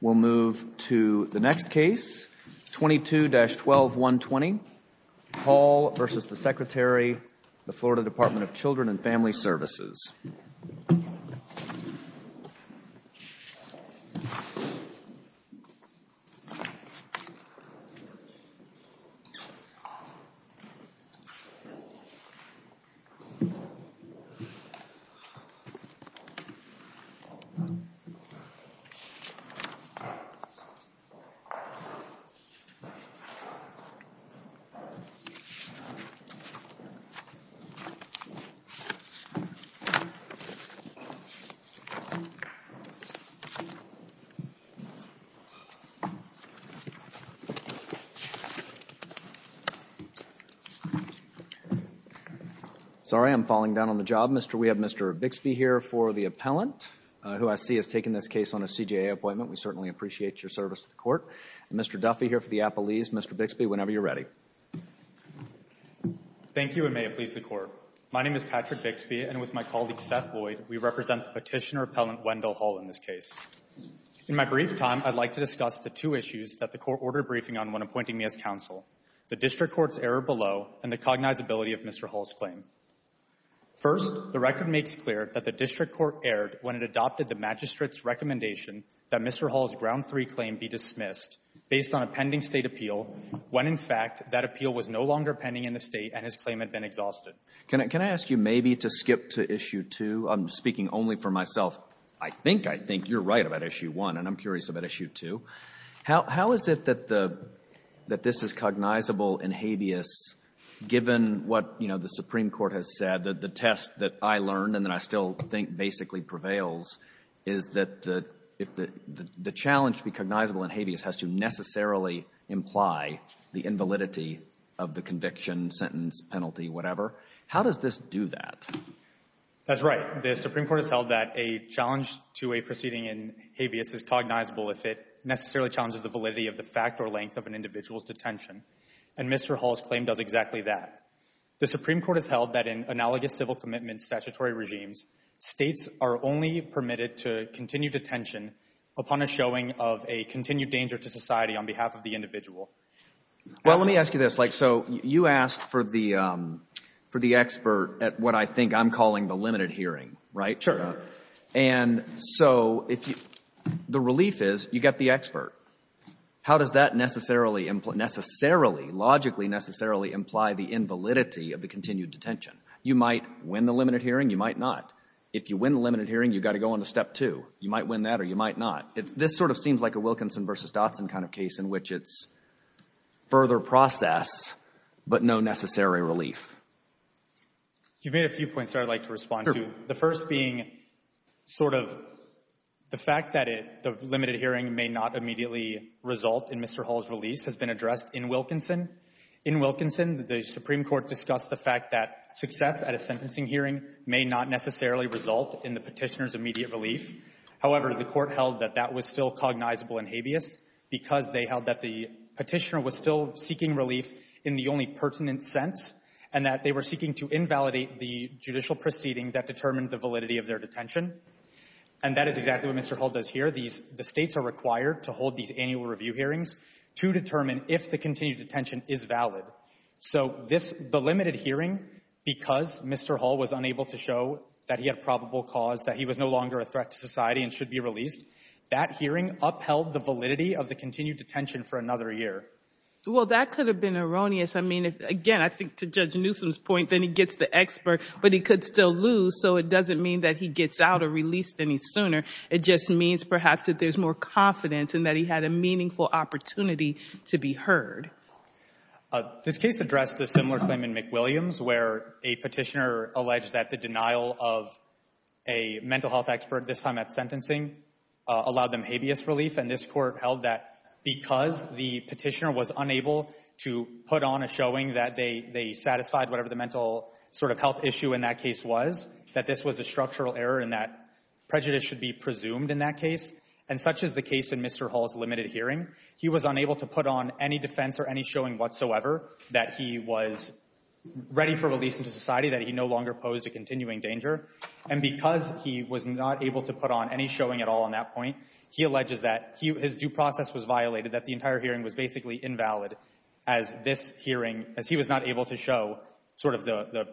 We'll move to the next case, 22-121, Hall v. Secretary, Florida Department of Children and Family Services We have Mr. Bixby here for the appellant, who I see has taken this case on a CJA appointment. We certainly appreciate your service to the Court. And Mr. Duffy here for the appellees. Mr. Bixby, whenever you're ready. Thank you, and may it please the Court. My name is Patrick Bixby, and with my colleague, Seth Lloyd, we represent the petitioner appellant, Wendall Hall, in this case. In my brief time, I'd like to discuss the two issues that the Court ordered a briefing on when appointing me as counsel, the District Court's error below and the cognizability of Mr. Hall's claim. First, the record makes clear that the District Court erred when it adopted the magistrate's recommendation that Mr. Hall's Ground 3 claim be dismissed based on a pending State appeal when, in fact, that appeal was no longer pending in the State and his claim had been exhausted. Can I ask you maybe to skip to Issue 2? I'm speaking only for myself. I think I think you're right about Issue 1, and I'm curious about Issue 2. How is it that this is cognizable in habeas given what, you know, the Supreme Court has said, that the test that I learned and that I still think basically prevails is that the challenge to be cognizable in habeas has to necessarily imply the invalidity of the conviction, sentence, penalty, whatever? How does this do that? That's right. The Supreme Court has held that a challenge to a proceeding in habeas is cognizable if it necessarily challenges the validity of the fact or length of an individual's detention, and Mr. Hall's claim does exactly that. The Supreme Court has held that in analogous civil commitment statutory regimes, States are only permitted to continue detention upon a showing of a continued danger to society on behalf of the individual. Well, let me ask you this. So you asked for the expert at what I think I'm calling the limited hearing, right? Sure. And so the relief is you get the expert. How does that necessarily, logically necessarily imply the invalidity of the continued detention? You might win the limited hearing, you might not. If you win the limited hearing, you've got to go on to Step 2. You might win that or you might not. This sort of seems like a Wilkinson v. Dotson kind of case in which it's further process but no necessary relief. You've made a few points that I'd like to respond to. The first being sort of the fact that the limited hearing may not immediately result in Mr. Hall's release has been addressed in Wilkinson. In Wilkinson, the Supreme Court discussed the fact that success at a sentencing hearing may not necessarily result in the petitioner's immediate relief. However, the court held that that was still cognizable in habeas because they held that the petitioner was still seeking relief in the only pertinent sense and that they were seeking to invalidate the judicial proceeding that determined the validity of their detention. And that is exactly what Mr. Hall does here. The states are required to hold these annual review hearings to determine if the continued detention is valid. So the limited hearing, because Mr. Hall was unable to show that he had probable cause, that he was no longer a threat to society and should be released, that hearing upheld the validity of the continued detention for another year. Well, that could have been erroneous. I mean, again, I think to Judge Newsom's point, then he gets the expert, but he could still lose, so it doesn't mean that he gets out or released any sooner. It just means perhaps that there's more confidence and that he had a meaningful opportunity to be heard. This case addressed a similar claim in McWilliams where a petitioner alleged that the denial of a mental health expert, this time at sentencing, allowed them habeas relief. And this court held that because the petitioner was unable to put on a showing that they satisfied whatever the mental sort of health issue in that case was, that this was a structural error and that prejudice should be presumed in that case. And such is the case in Mr. Hall's limited hearing. He was unable to put on any defense or any showing whatsoever that he was ready for release into society, that he no longer posed a continuing danger. And because he was not able to put on any showing at all on that point, he alleges that his due process was violated, that the entire hearing was basically invalid as this hearing, as he was not able to show sort of the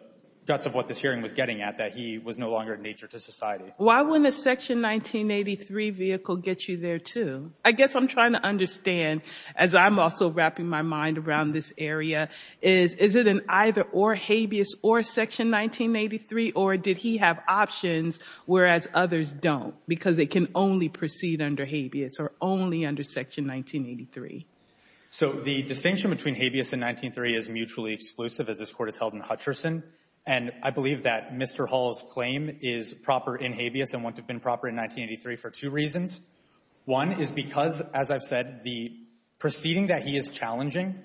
guts of what this hearing was getting at, that he was no longer in nature to society. Why wouldn't a Section 1983 vehicle get you there, too? I guess I'm trying to understand, as I'm also wrapping my mind around this area, is it an either or habeas or Section 1983? Or did he have options, whereas others don't, because they can only proceed under habeas or only under Section 1983? So the distinction between habeas and 1983 is mutually exclusive, as this court has held in Hutcherson. And I believe that Mr. Hall's claim is proper in habeas and went to have been proper in 1983 for two reasons. One is because, as I've said, the proceeding that he is challenging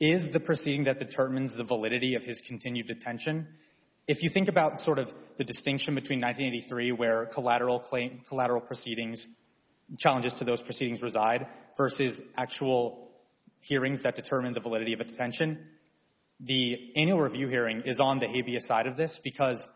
is the proceeding that determines the validity of his continued detention. If you think about sort of the distinction between 1983, where collateral proceedings, challenges to those proceedings reside, versus actual hearings that determine the validity of a detention, the annual review hearing is on the habeas side of this because,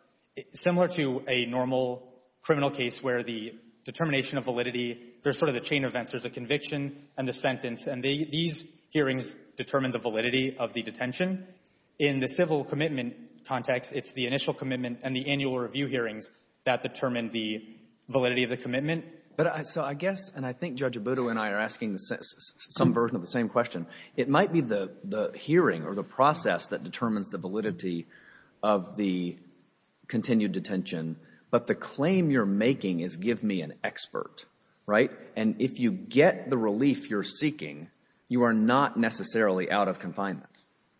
similar to a normal criminal case where the determination of validity, there's sort of the chain of events. There's a conviction and the sentence. And these hearings determine the validity of the detention. In the civil commitment context, it's the initial commitment and the annual review hearings that determine the validity of the commitment. So I guess, and I think Judge Abuto and I are asking some version of the same question, it might be the hearing or the process that determines the validity of the continued detention, but the claim you're making is give me an expert, right? And if you get the relief you're seeking, you are not necessarily out of confinement,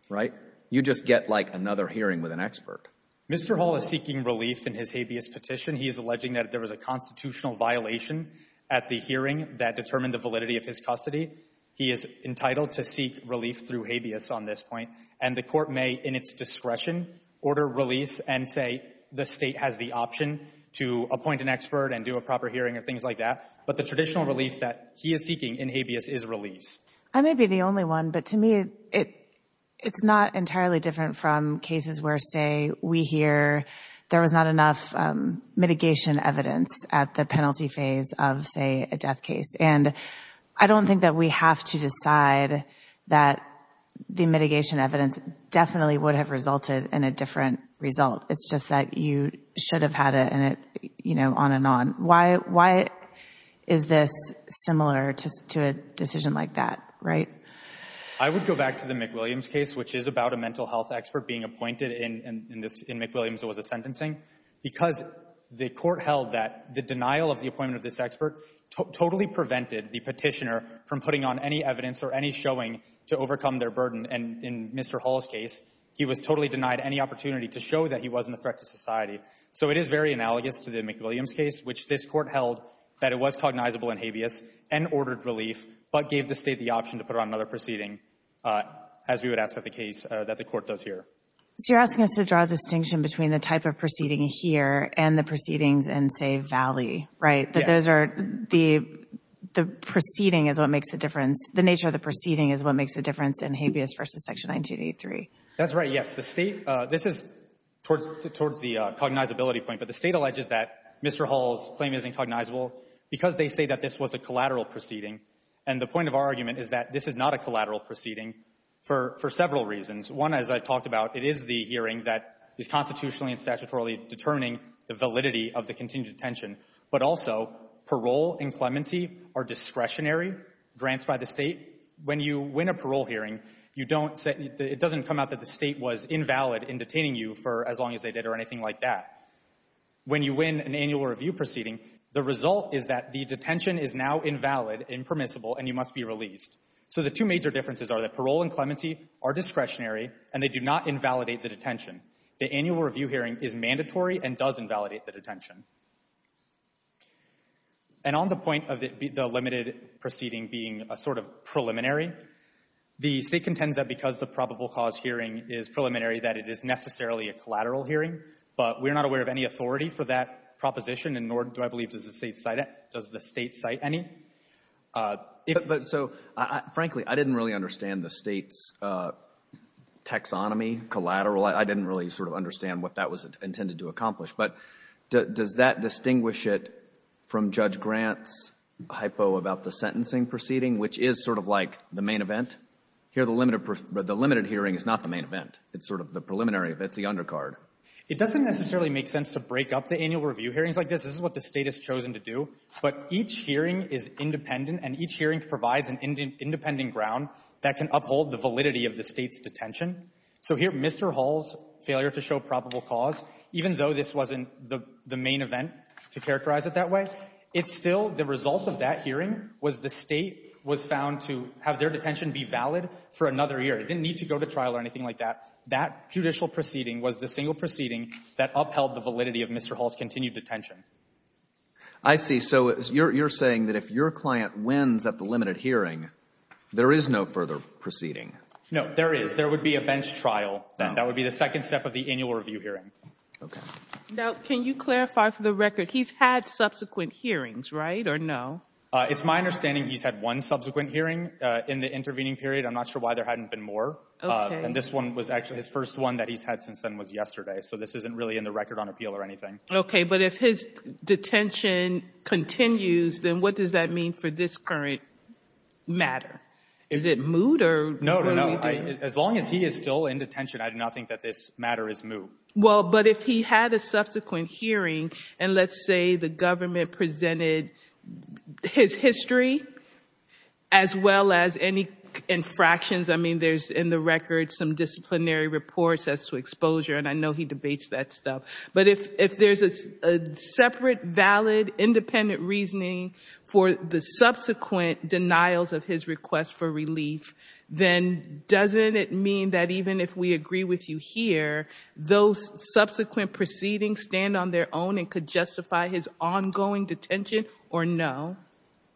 right? You just get, like, another hearing with an expert. Mr. Hall is seeking relief in his habeas petition. He is alleging that there was a constitutional violation at the hearing that determined the validity of his custody. He is entitled to seek relief through habeas on this point, and the Court may, in its discretion, order release and say the State has the option to appoint an expert and do a proper hearing and things like that. But the traditional relief that he is seeking in habeas is release. I may be the only one, but to me it's not entirely different from cases where, say, we hear there was not enough mitigation evidence at the penalty phase of, say, a death case. And I don't think that we have to decide that the mitigation evidence definitely would have resulted in a different result. It's just that you should have had it, you know, on and on. Why is this similar to a decision like that, right? I would go back to the McWilliams case, which is about a mental health expert being appointed in McWilliams, it was a sentencing, because the Court held that the denial of the appointment of this expert totally prevented the petitioner from putting on any evidence or any showing to overcome their burden. And in Mr. Hall's case, he was totally denied any opportunity to show that he wasn't a threat to society. So it is very analogous to the McWilliams case, which this Court held that it was cognizable in habeas and ordered relief, but gave the State the option to put on another proceeding, as we would ask of the case that the Court does here. So you're asking us to draw a distinction between the type of proceeding here and the proceedings in, say, Valley, right? Yes. The proceeding is what makes the difference. The nature of the proceeding is what makes the difference in habeas versus Section 1983. That's right, yes. This is towards the cognizability point, but the State alleges that Mr. Hall's claim isn't cognizable because they say that this was a collateral proceeding. And the point of our argument is that this is not a collateral proceeding for several reasons. One, as I talked about, it is the hearing that is constitutionally and statutorily determining the validity of the continued detention. But also, parole and clemency are discretionary grants by the State. When you win a parole hearing, it doesn't come out that the State was invalid in detaining you for as long as they did or anything like that. When you win an annual review proceeding, the result is that the detention is now invalid, impermissible, and you must be released. So the two major differences are that parole and clemency are discretionary, and they do not invalidate the detention. The annual review hearing is mandatory and does invalidate the detention. And on the point of the limited proceeding being a sort of preliminary, the State contends that because the probable cause hearing is preliminary that it is necessarily a collateral hearing. But we're not aware of any authority for that proposition, and nor do I believe does the State cite it. Does the State cite any? But so, frankly, I didn't really understand the State's taxonomy, collateral. I didn't really sort of understand what that was intended to accomplish. But does that distinguish it from Judge Grant's hypo about the sentencing proceeding, which is sort of like the main event? Here the limited hearing is not the main event. It's sort of the preliminary. It's the undercard. It doesn't necessarily make sense to break up the annual review hearings like this. This is what the State has chosen to do. But each hearing is independent, and each hearing provides an independent ground that can uphold the validity of the State's detention. So here Mr. Hall's failure to show probable cause, even though this wasn't the main event to characterize it that way, it's still the result of that hearing was the State was found to have their detention be valid for another year. It didn't need to go to trial or anything like that. That judicial proceeding was the single proceeding that upheld the validity of Mr. Hall's continued detention. I see. So you're saying that if your client wins at the limited hearing, there is no further proceeding. No, there is. There would be a bench trial then. That would be the second step of the annual review hearing. Okay. Now, can you clarify for the record, he's had subsequent hearings, right, or no? It's my understanding he's had one subsequent hearing in the intervening period. I'm not sure why there hadn't been more. Okay. And this one was actually his first one that he's had since then was yesterday. So this isn't really in the record on appeal or anything. Okay. But if his detention continues, then what does that mean for this current matter? Is it mood or what are we doing? As long as he is still in detention, I do not think that this matter is mood. Well, but if he had a subsequent hearing, and let's say the government presented his history as well as any infractions. I mean, there's in the record some disciplinary reports as to exposure, and I know he debates that stuff. But if there's a separate, valid, independent reasoning for the subsequent denials of his request for relief, then doesn't it mean that even if we agree with you here, those subsequent proceedings stand on their own and could justify his ongoing detention or no?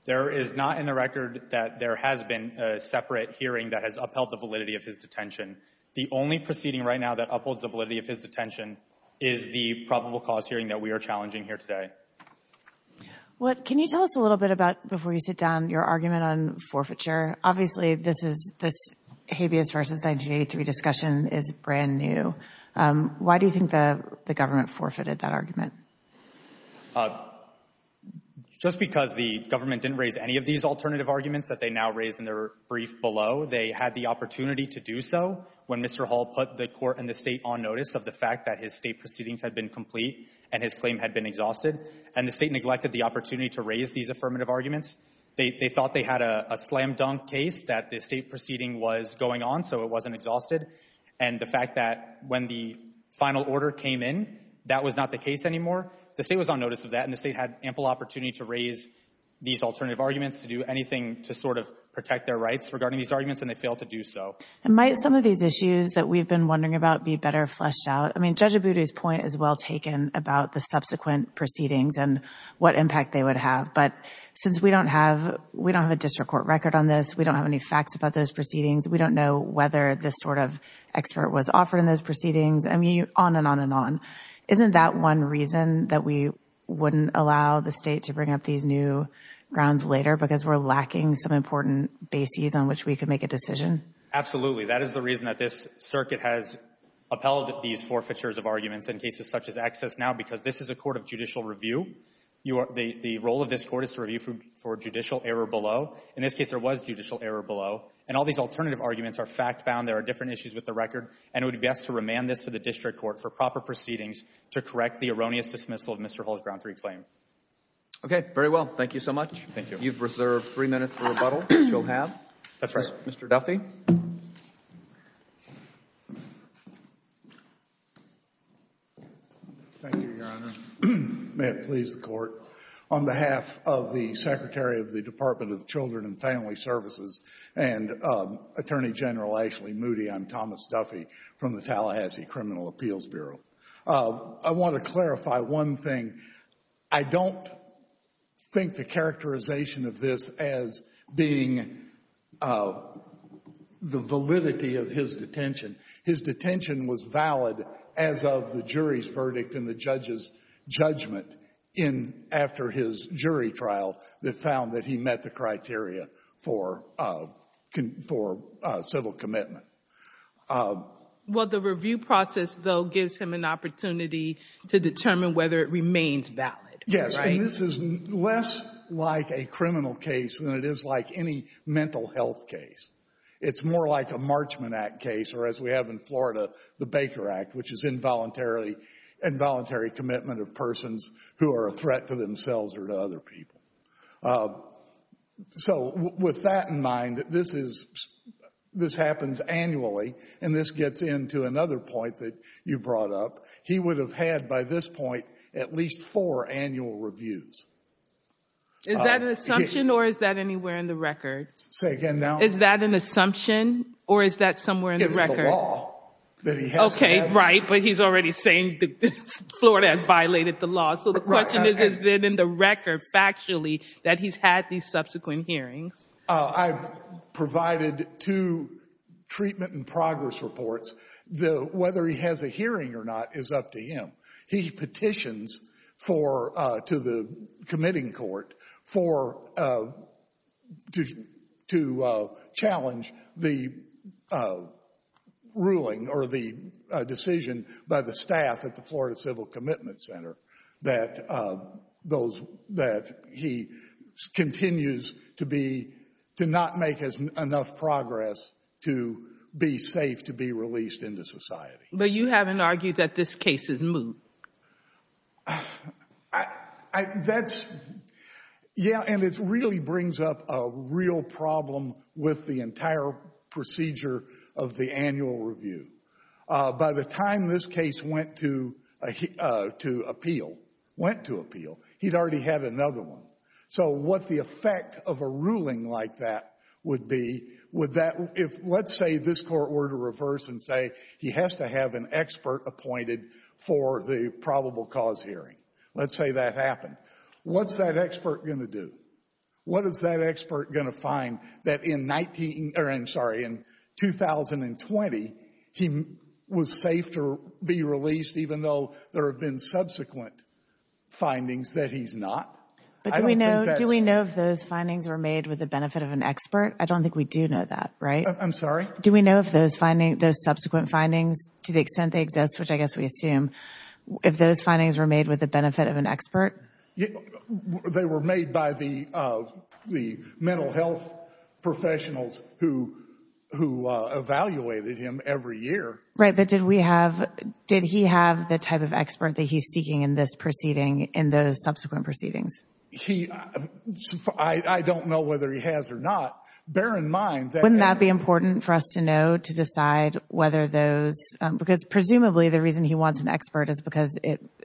There is not in the record that there has been a separate hearing that has upheld the validity of his detention. The only proceeding right now that upholds the validity of his detention is the probable cause hearing that we are challenging here today. Well, can you tell us a little bit about, before you sit down, your argument on forfeiture? Obviously, this habeas versus 1983 discussion is brand new. Why do you think the government forfeited that argument? Just because the government didn't raise any of these alternative arguments that they now raise in their brief below. They had the opportunity to do so when Mr. Hall put the court and the state on notice of the fact that his state proceedings had been complete and his claim had been exhausted. And the state neglected the opportunity to raise these affirmative arguments. They thought they had a slam dunk case that the state proceeding was going on, so it wasn't exhausted. And the fact that when the final order came in, that was not the case anymore. The state was on notice of that, and the state had ample opportunity to raise these alternative arguments to do anything to sort of protect their rights regarding these arguments, and they failed to do so. And might some of these issues that we've been wondering about be better fleshed out? I mean, Judge Abudu's point is well taken about the subsequent proceedings and what impact they would have. But since we don't have a district court record on this, we don't have any facts about those proceedings, we don't know whether this sort of expert was offered in those proceedings, I mean, on and on and on. Isn't that one reason that we wouldn't allow the state to bring up these new grounds later because we're lacking some important bases on which we could make a decision? Absolutely. That is the reason that this circuit has upheld these forfeitures of arguments in cases such as Excess now because this is a court of judicial review. The role of this court is to review for judicial error below. In this case, there was judicial error below. And all these alternative arguments are fact-bound. There are different issues with the record, and it would be best to remand this to the district court for proper proceedings to correct the erroneous dismissal of Mr. Hull's Ground 3 claim. Okay. Very well. Thank you so much. Thank you. You've reserved three minutes for rebuttal, which you'll have. That's right. Mr. Duffy. Thank you, Your Honor. May it please the Court. On behalf of the Secretary of the Department of Children and Family Services and Attorney General Ashley Moody, I'm Thomas Duffy from the Tallahassee Criminal Appeals Bureau. I want to clarify one thing. I don't think the characterization of this as being the validity of his detention. His detention was valid as of the jury's verdict and the judge's judgment after his jury trial that found that he met the criteria for civil commitment. Well, the review process, though, gives him an opportunity to determine whether it remains valid, right? Yes, and this is less like a criminal case than it is like any mental health case. It's more like a Marchman Act case or, as we have in Florida, the Baker Act, which is involuntary commitment of persons who are a threat to themselves or to other people. So with that in mind, this happens annually, and this gets into another point that you brought up. He would have had, by this point, at least four annual reviews. Is that an assumption or is that anywhere in the record? Say again now. Is that an assumption or is that somewhere in the record? It's the law that he has to have. Okay, right, but he's already saying Florida has violated the law. So the question is, is it in the record factually that he's had these subsequent hearings? I've provided two treatment and progress reports. Whether he has a hearing or not is up to him. He petitions to the committing court to challenge the ruling or the decision by the staff at the Florida Civil Commitment Center that he continues to not make enough progress to be safe to be released into society. But you haven't argued that this case is moot. Yeah, and it really brings up a real problem with the entire procedure of the annual review. By the time this case went to appeal, he'd already had another one. So what the effect of a ruling like that would be, let's say this court were to reverse and say he has to have an expert appointed for the probable cause hearing. Let's say that happened. What's that expert going to do? What is that expert going to find that in 19, or I'm sorry, in 2020, he was safe to be released even though there have been subsequent findings that he's not? But do we know if those findings were made with the benefit of an expert? I don't think we do know that, right? I'm sorry? Do we know if those subsequent findings, to the extent they exist, which I guess we assume, if those findings were made with the benefit of an expert? They were made by the mental health professionals who evaluated him every year. Right, but did we have, did he have the type of expert that he's seeking in this proceeding, in those subsequent proceedings? He, I don't know whether he has or not. Bear in mind that Wouldn't that be important for us to know to decide whether those, because presumably the reason he wants an expert is because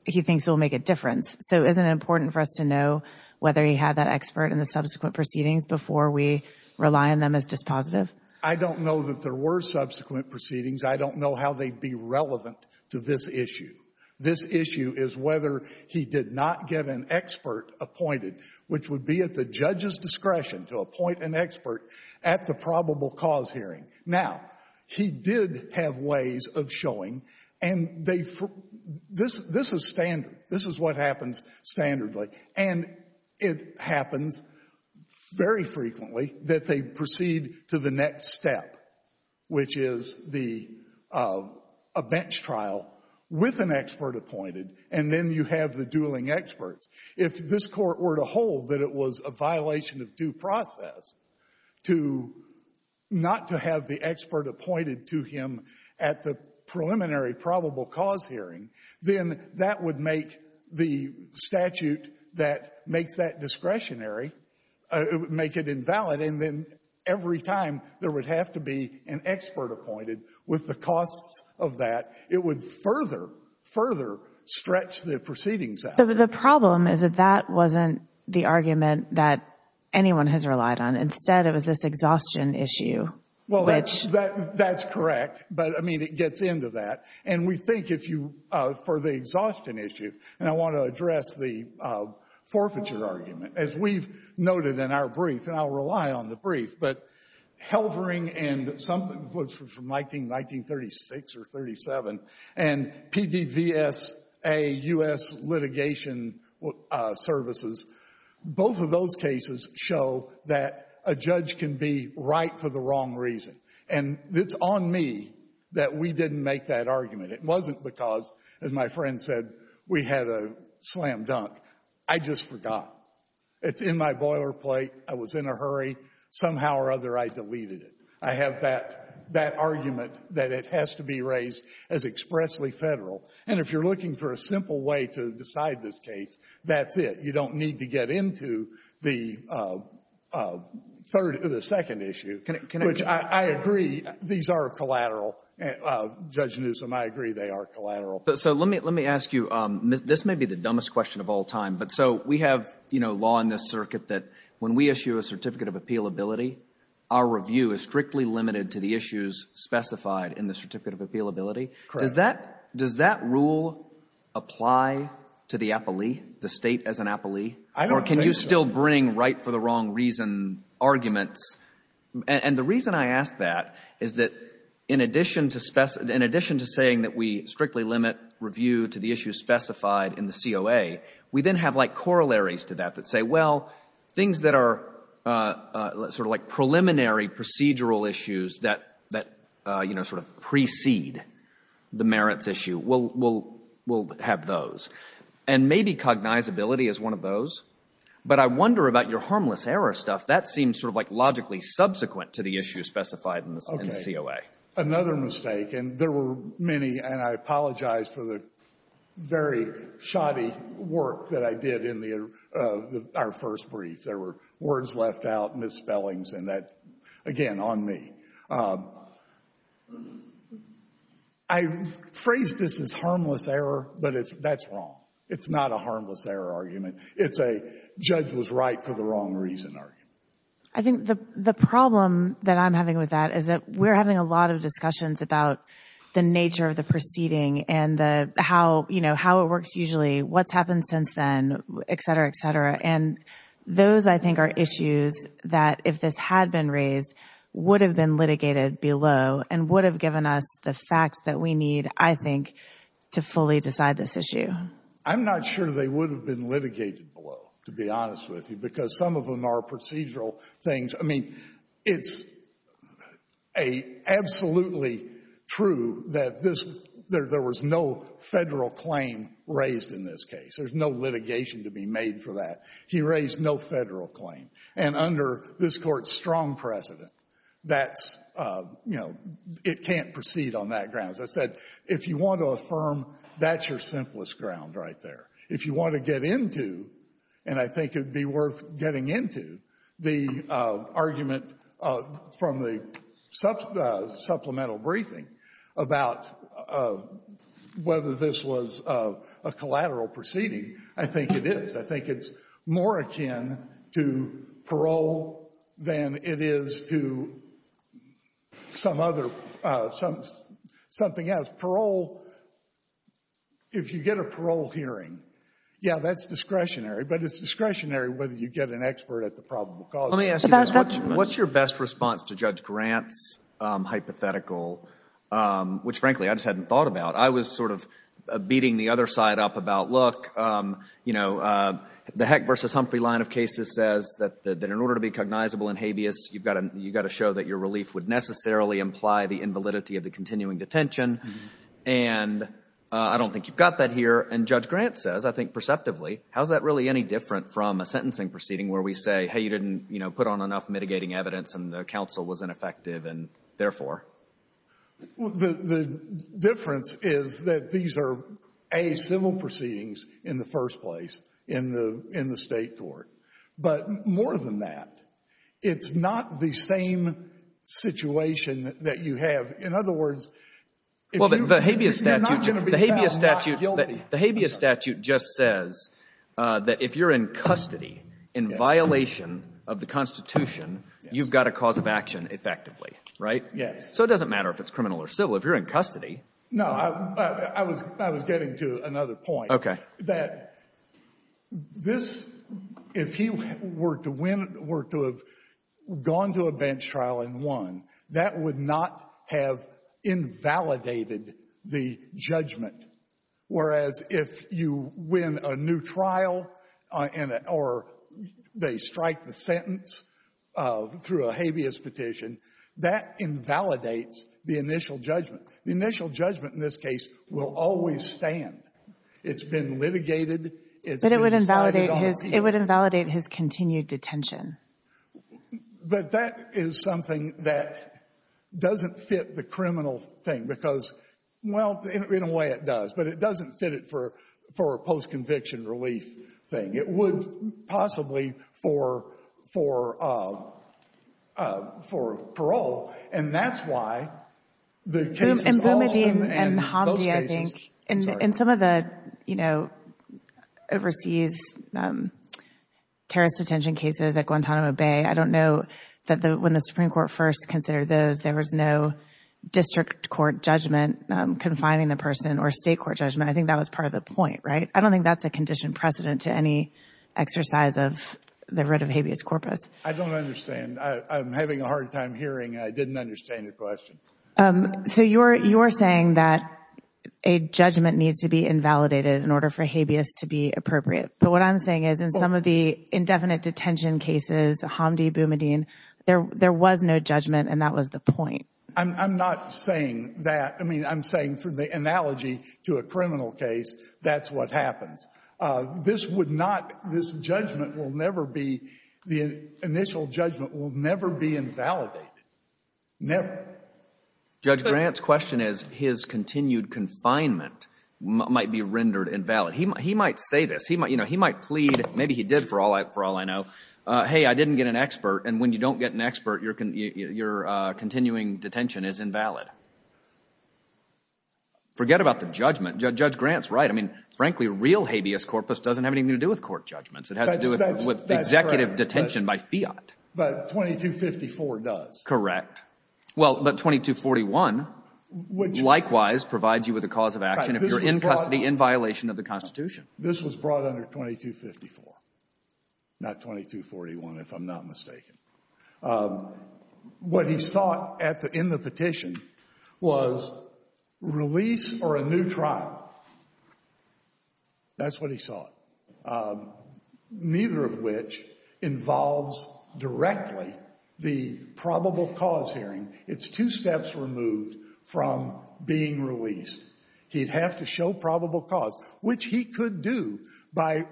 he thinks it will make a difference. So isn't it important for us to know whether he had that expert in the subsequent proceedings before we rely on them as dispositive? I don't know that there were subsequent proceedings. I don't know how they'd be relevant to this issue. This issue is whether he did not get an expert appointed, which would be at the judge's discretion to appoint an expert at the probable cause hearing. Now, he did have ways of showing, and they, this is standard. This is what happens standardly. And it happens very frequently that they proceed to the next step, which is the, a bench trial with an expert appointed, and then you have the dueling experts. If this Court were to hold that it was a violation of due process to, not to have the expert appointed to him at the preliminary probable cause hearing, then that would make the statute that makes that discretionary, make it invalid. And then every time there would have to be an expert appointed with the costs of that, it would further, further stretch the proceedings out. The problem is that that wasn't the argument that anyone has relied on. Instead, it was this exhaustion issue. Well, that's correct. But, I mean, it gets into that. And we think if you, for the exhaustion issue, and I want to address the forfeiture argument. As we've noted in our brief, and I'll rely on the brief, but Helvering and something from 1936 or 37 and PDVSA, U.S. Litigation Services, both of those cases show that a judge can be right for the wrong reason. And it's on me that we didn't make that argument. It wasn't because, as my friend said, we had a slam dunk. I just forgot. It's in my boilerplate. I was in a hurry. Somehow or other, I deleted it. I have that argument that it has to be raised as expressly Federal. And if you're looking for a simple way to decide this case, that's it. You don't need to get into the third or the second issue. Which I agree, these are collateral. Judge Newsom, I agree they are collateral. So let me ask you, this may be the dumbest question of all time, but so we have, you know, law in this circuit that when we issue a Certificate of Appealability, our review is strictly limited to the issues specified in the Certificate of Appealability. Correct. Does that rule apply to the appellee, the State as an appellee? I don't think so. And the reason I ask that is that in addition to saying that we strictly limit review to the issues specified in the COA, we then have like corollaries to that that say, well, things that are sort of like preliminary procedural issues that, you know, sort of precede the merits issue, we'll have those. And maybe cognizability is one of those. But I wonder about your harmless error stuff. That seems sort of like logically subsequent to the issues specified in the COA. Okay. Another mistake, and there were many, and I apologize for the very shoddy work that I did in our first brief. There were words left out, misspellings, and that, again, on me. I phrased this as harmless error, but that's wrong. It's not a harmless error argument. It's a judge was right for the wrong reason argument. I think the problem that I'm having with that is that we're having a lot of discussions about the nature of the proceeding and the how, you know, how it works usually, what's happened since then, et cetera, et cetera. And those, I think, are issues that if this had been raised would have been litigated below and would have given us the facts that we need, I think, to fully decide this issue. I'm not sure they would have been litigated below, to be honest with you, because some of them are procedural things. I mean, it's absolutely true that there was no Federal claim raised in this case. There's no litigation to be made for that. He raised no Federal claim. And under this Court's strong precedent, that's, you know, it can't proceed on that ground. As I said, if you want to affirm, that's your simplest ground right there. If you want to get into, and I think it would be worth getting into, the argument from the supplemental briefing about whether this was a collateral proceeding, I think it is. I think it's more akin to parole than it is to some other, something else. Parole, if you get a parole hearing, yeah, that's discretionary. But it's discretionary whether you get an expert at the probable cause. Let me ask you this. What's your best response to Judge Grant's hypothetical, which, frankly, I just hadn't thought about? I was sort of beating the other side up about, look, you know, the Heck v. Humphrey line of cases says that in order to be cognizable in habeas, you've got to show that your relief would necessarily imply the invalidity of the continuing detention. And I don't think you've got that here. And Judge Grant says, I think perceptively, how is that really any different from a sentencing proceeding where we say, hey, you didn't, you know, put on enough mitigating evidence and the counsel was ineffective, and therefore? The difference is that these are, A, civil proceedings in the first place in the State court. But more than that, it's not the same situation that you have. In other words, if you're not going to be found not guilty. The habeas statute just says that if you're in custody in violation of the Constitution, you've got a cause of action effectively, right? Yes. So it doesn't matter if it's criminal or civil. If you're in custody. No. I was getting to another point. Okay. That this, if he were to win, were to have gone to a bench trial and won, that would not have invalidated the judgment. Whereas if you win a new trial or they strike the sentence through a habeas petition, that invalidates the initial judgment. The initial judgment in this case will always stand. It's been litigated. But it would invalidate his continued detention. But that is something that doesn't fit the criminal thing because, well, in a way it does, but it doesn't fit it for a post-conviction relief thing. It would possibly for parole. And that's why the case is lost in those cases. In Bumadim and Hamdi, I think, in some of the, you know, overseas terrorist detention cases at Guantanamo Bay, I don't know that when the Supreme Court first considered those, there was no district court judgment confining the person or state court judgment. I think that was part of the point, right? I don't think that's a condition precedent to any exercise of the writ of habeas corpus. I don't understand. I'm having a hard time hearing. I didn't understand your question. So you're saying that a judgment needs to be invalidated in order for habeas to be appropriate. But what I'm saying is in some of the indefinite detention cases, Hamdi, Bumadim, there was no judgment and that was the point. I'm not saying that. I mean, I'm saying through the analogy to a criminal case, that's what happens. This would not, this judgment will never be, the initial judgment will never be invalidated. Never. Judge Grant's question is his continued confinement might be rendered invalid. He might say this. You know, he might plead, maybe he did for all I know, hey, I didn't get an expert, and when you don't get an expert, your continuing detention is invalid. Forget about the judgment. Judge Grant's right. I mean, frankly, real habeas corpus doesn't have anything to do with court judgments. It has to do with executive detention by fiat. But 2254 does. Correct. Well, but 2241 likewise provides you with a cause of action if you're in custody in violation of the Constitution. This was brought under 2254, not 2241, if I'm not mistaken. What he sought at the end of the petition was release or a new trial. That's what he sought, neither of which involves directly the probable cause hearing. It's two steps removed from being released. He'd have to show probable cause, which he could do by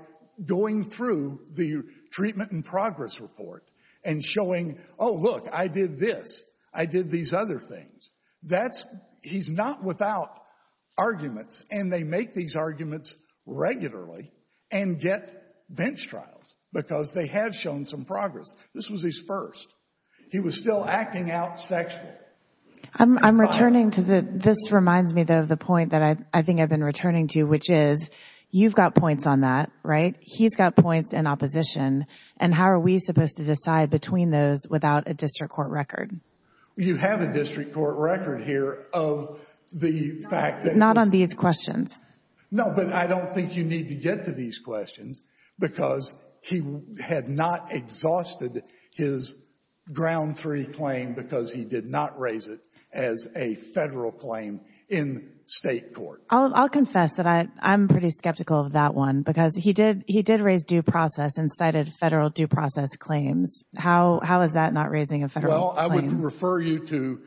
going through the treatment and progress report and showing, oh, look, I did this, I did these other things. He's not without arguments, and they make these arguments regularly and get bench trials because they have shown some progress. This was his first. He was still acting out sexually. I'm returning to the—this reminds me, though, of the point that I think I've been returning to, which is you've got points on that, right? He's got points in opposition. And how are we supposed to decide between those without a district court record? You have a district court record here of the fact that— Not on these questions. No, but I don't think you need to get to these questions because he had not exhausted his ground three claim because he did not raise it as a federal claim in state court. I'll confess that I'm pretty skeptical of that one because he did raise due process and cited federal due process claims. How is that not raising a federal claim? I would refer you to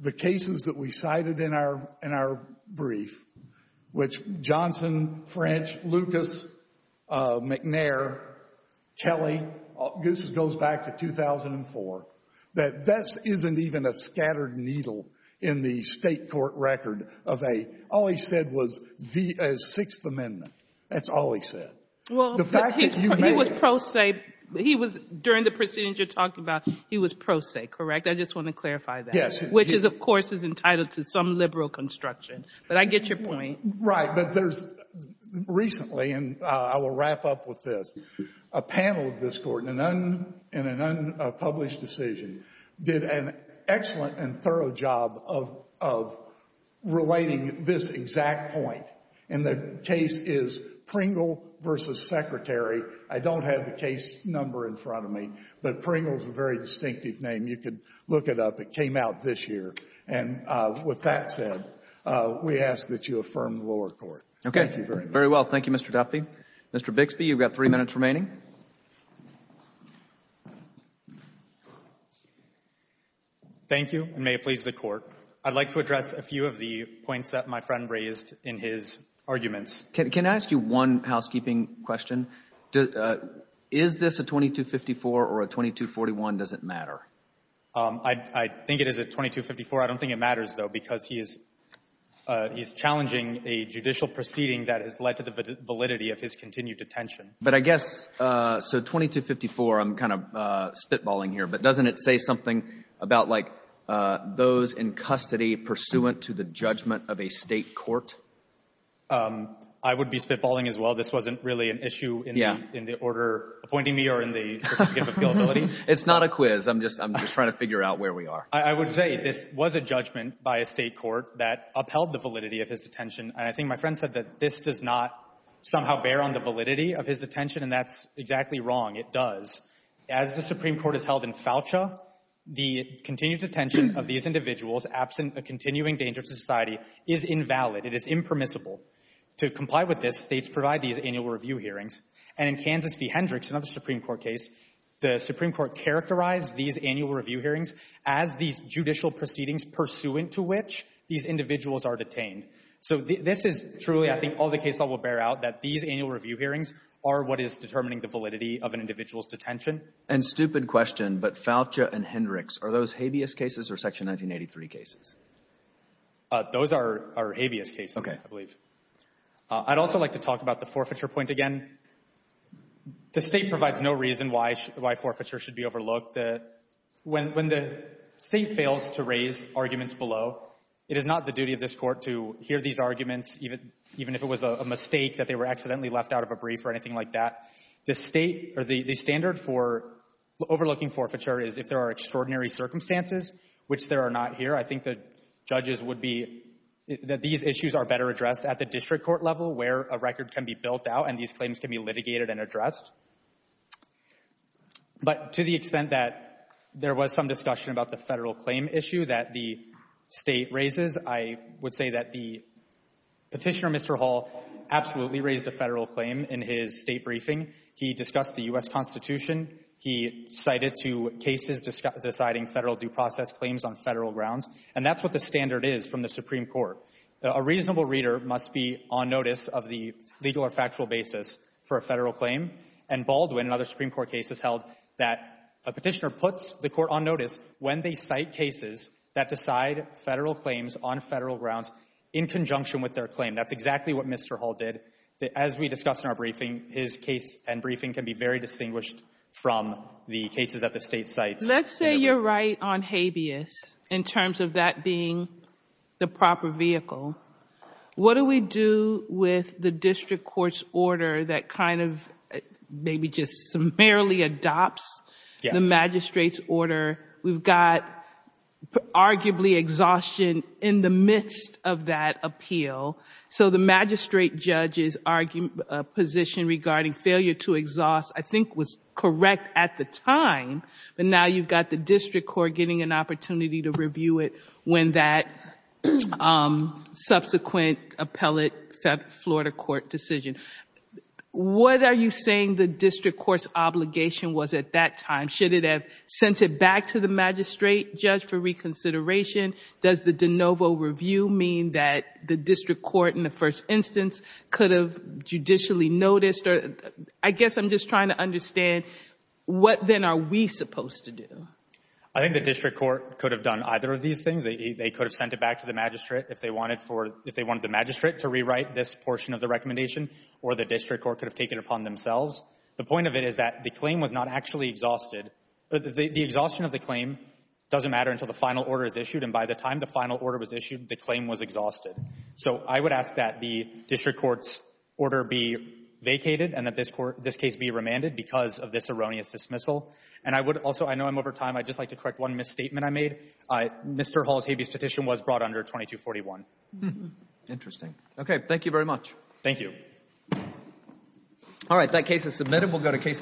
the cases that we cited in our brief, which Johnson, French, Lucas, McNair, Kelly, this goes back to 2004, that this isn't even a scattered needle in the state court record of a—all he said was the Sixth Amendment. That's all he said. Well, he was pro se. He was, during the proceedings you're talking about, he was pro se, correct? I just want to clarify that. Yes. Which is, of course, is entitled to some liberal construction. But I get your point. Right. But there's recently, and I will wrap up with this, a panel of this Court in an unpublished decision did an excellent and thorough job of relating this exact point. And the case is Pringle v. Secretary. I don't have the case number in front of me, but Pringle's a very distinctive name. You can look it up. It came out this year. And with that said, we ask that you affirm the lower court. Thank you very much. Very well. Thank you, Mr. Duffy. Mr. Bixby, you've got three minutes remaining. Thank you, and may it please the Court. I'd like to address a few of the points that my friend raised in his arguments. Can I ask you one housekeeping question? Is this a 2254 or a 2241? Does it matter? I think it is a 2254. I don't think it matters, though, because he is challenging a judicial proceeding that has led to the validity of his continued detention. But I guess, so 2254, I'm kind of spitballing here, but doesn't it say something about, like, those in custody pursuant to the judgment of a state court? I would be spitballing as well. This wasn't really an issue in the order appointing me or in the gift of gillibility. It's not a quiz. I'm just trying to figure out where we are. I would say this was a judgment by a state court that upheld the validity of his detention, and I think my friend said that this does not somehow bear on the validity of his detention, and that's exactly wrong. It does. As the Supreme Court has held in Foucha, the continued detention of these individuals absent a continuing danger to society is invalid. It is impermissible. To comply with this, states provide these annual review hearings, and in Kansas v. Hendricks, another Supreme Court case, the Supreme Court characterized these annual review hearings as these judicial proceedings pursuant to which these individuals are detained. So this is truly, I think, all the case law will bear out, that these annual review hearings are what is determining the validity of an individual's detention. And stupid question, but Foucha and Hendricks, are those habeas cases or Section 1983 cases? Those are habeas cases, I believe. I'd also like to talk about the forfeiture point again. The State provides no reason why forfeiture should be overlooked. When the State fails to raise arguments below, it is not the duty of this Court to hear these arguments, even if it was a mistake that they were accidentally left out of a brief or anything like that. The State, or the standard for overlooking forfeiture is if there are extraordinary circumstances, which there are not here, I think the judges would be, that these issues are better addressed at the district court level where a record can be built out and these claims can be litigated and addressed. But to the extent that there was some discussion about the federal claim issue that the State raises, I would say that the petitioner, Mr. Hall, absolutely raised a federal claim in his State briefing. He discussed the U.S. Constitution. He cited two cases deciding federal due process claims on federal grounds. And that's what the standard is from the Supreme Court. A reasonable reader must be on notice of the legal or factual basis for a federal claim. And Baldwin and other Supreme Court cases held that a petitioner puts the court on notice when they cite cases that decide federal claims on federal grounds in conjunction with their claim. That's exactly what Mr. Hall did. As we discussed in our briefing, his case and briefing can be very distinguished from the cases that the State cites. Let's say you're right on habeas in terms of that being the proper vehicle. What do we do with the district court's order that kind of maybe just summarily adopts the magistrate's order? We've got arguably exhaustion in the midst of that appeal. So the magistrate judge's position regarding failure to exhaust, I think, was correct at the time. But now you've got the district court getting an opportunity to review it when that subsequent appellate Florida court decision. What are you saying the district court's obligation was at that time? Should it have sent it back to the magistrate judge for reconsideration? Does the de novo review mean that the district court in the first instance could have judicially noticed? I guess I'm just trying to understand what then are we supposed to do? I think the district court could have done either of these things. They could have sent it back to the magistrate if they wanted the magistrate to rewrite this portion of the recommendation or the district court could have taken it upon themselves. The point of it is that the claim was not actually exhausted. The exhaustion of the claim doesn't matter until the final order is issued, and by the time the final order was issued, the claim was exhausted. So I would ask that the district court's order be vacated and that this case be remanded because of this erroneous dismissal. And I would also, I know I'm over time, I'd just like to correct one misstatement I made. Mr. Hall's habeas petition was brought under 2241. Interesting. Okay, thank you very much. Thank you.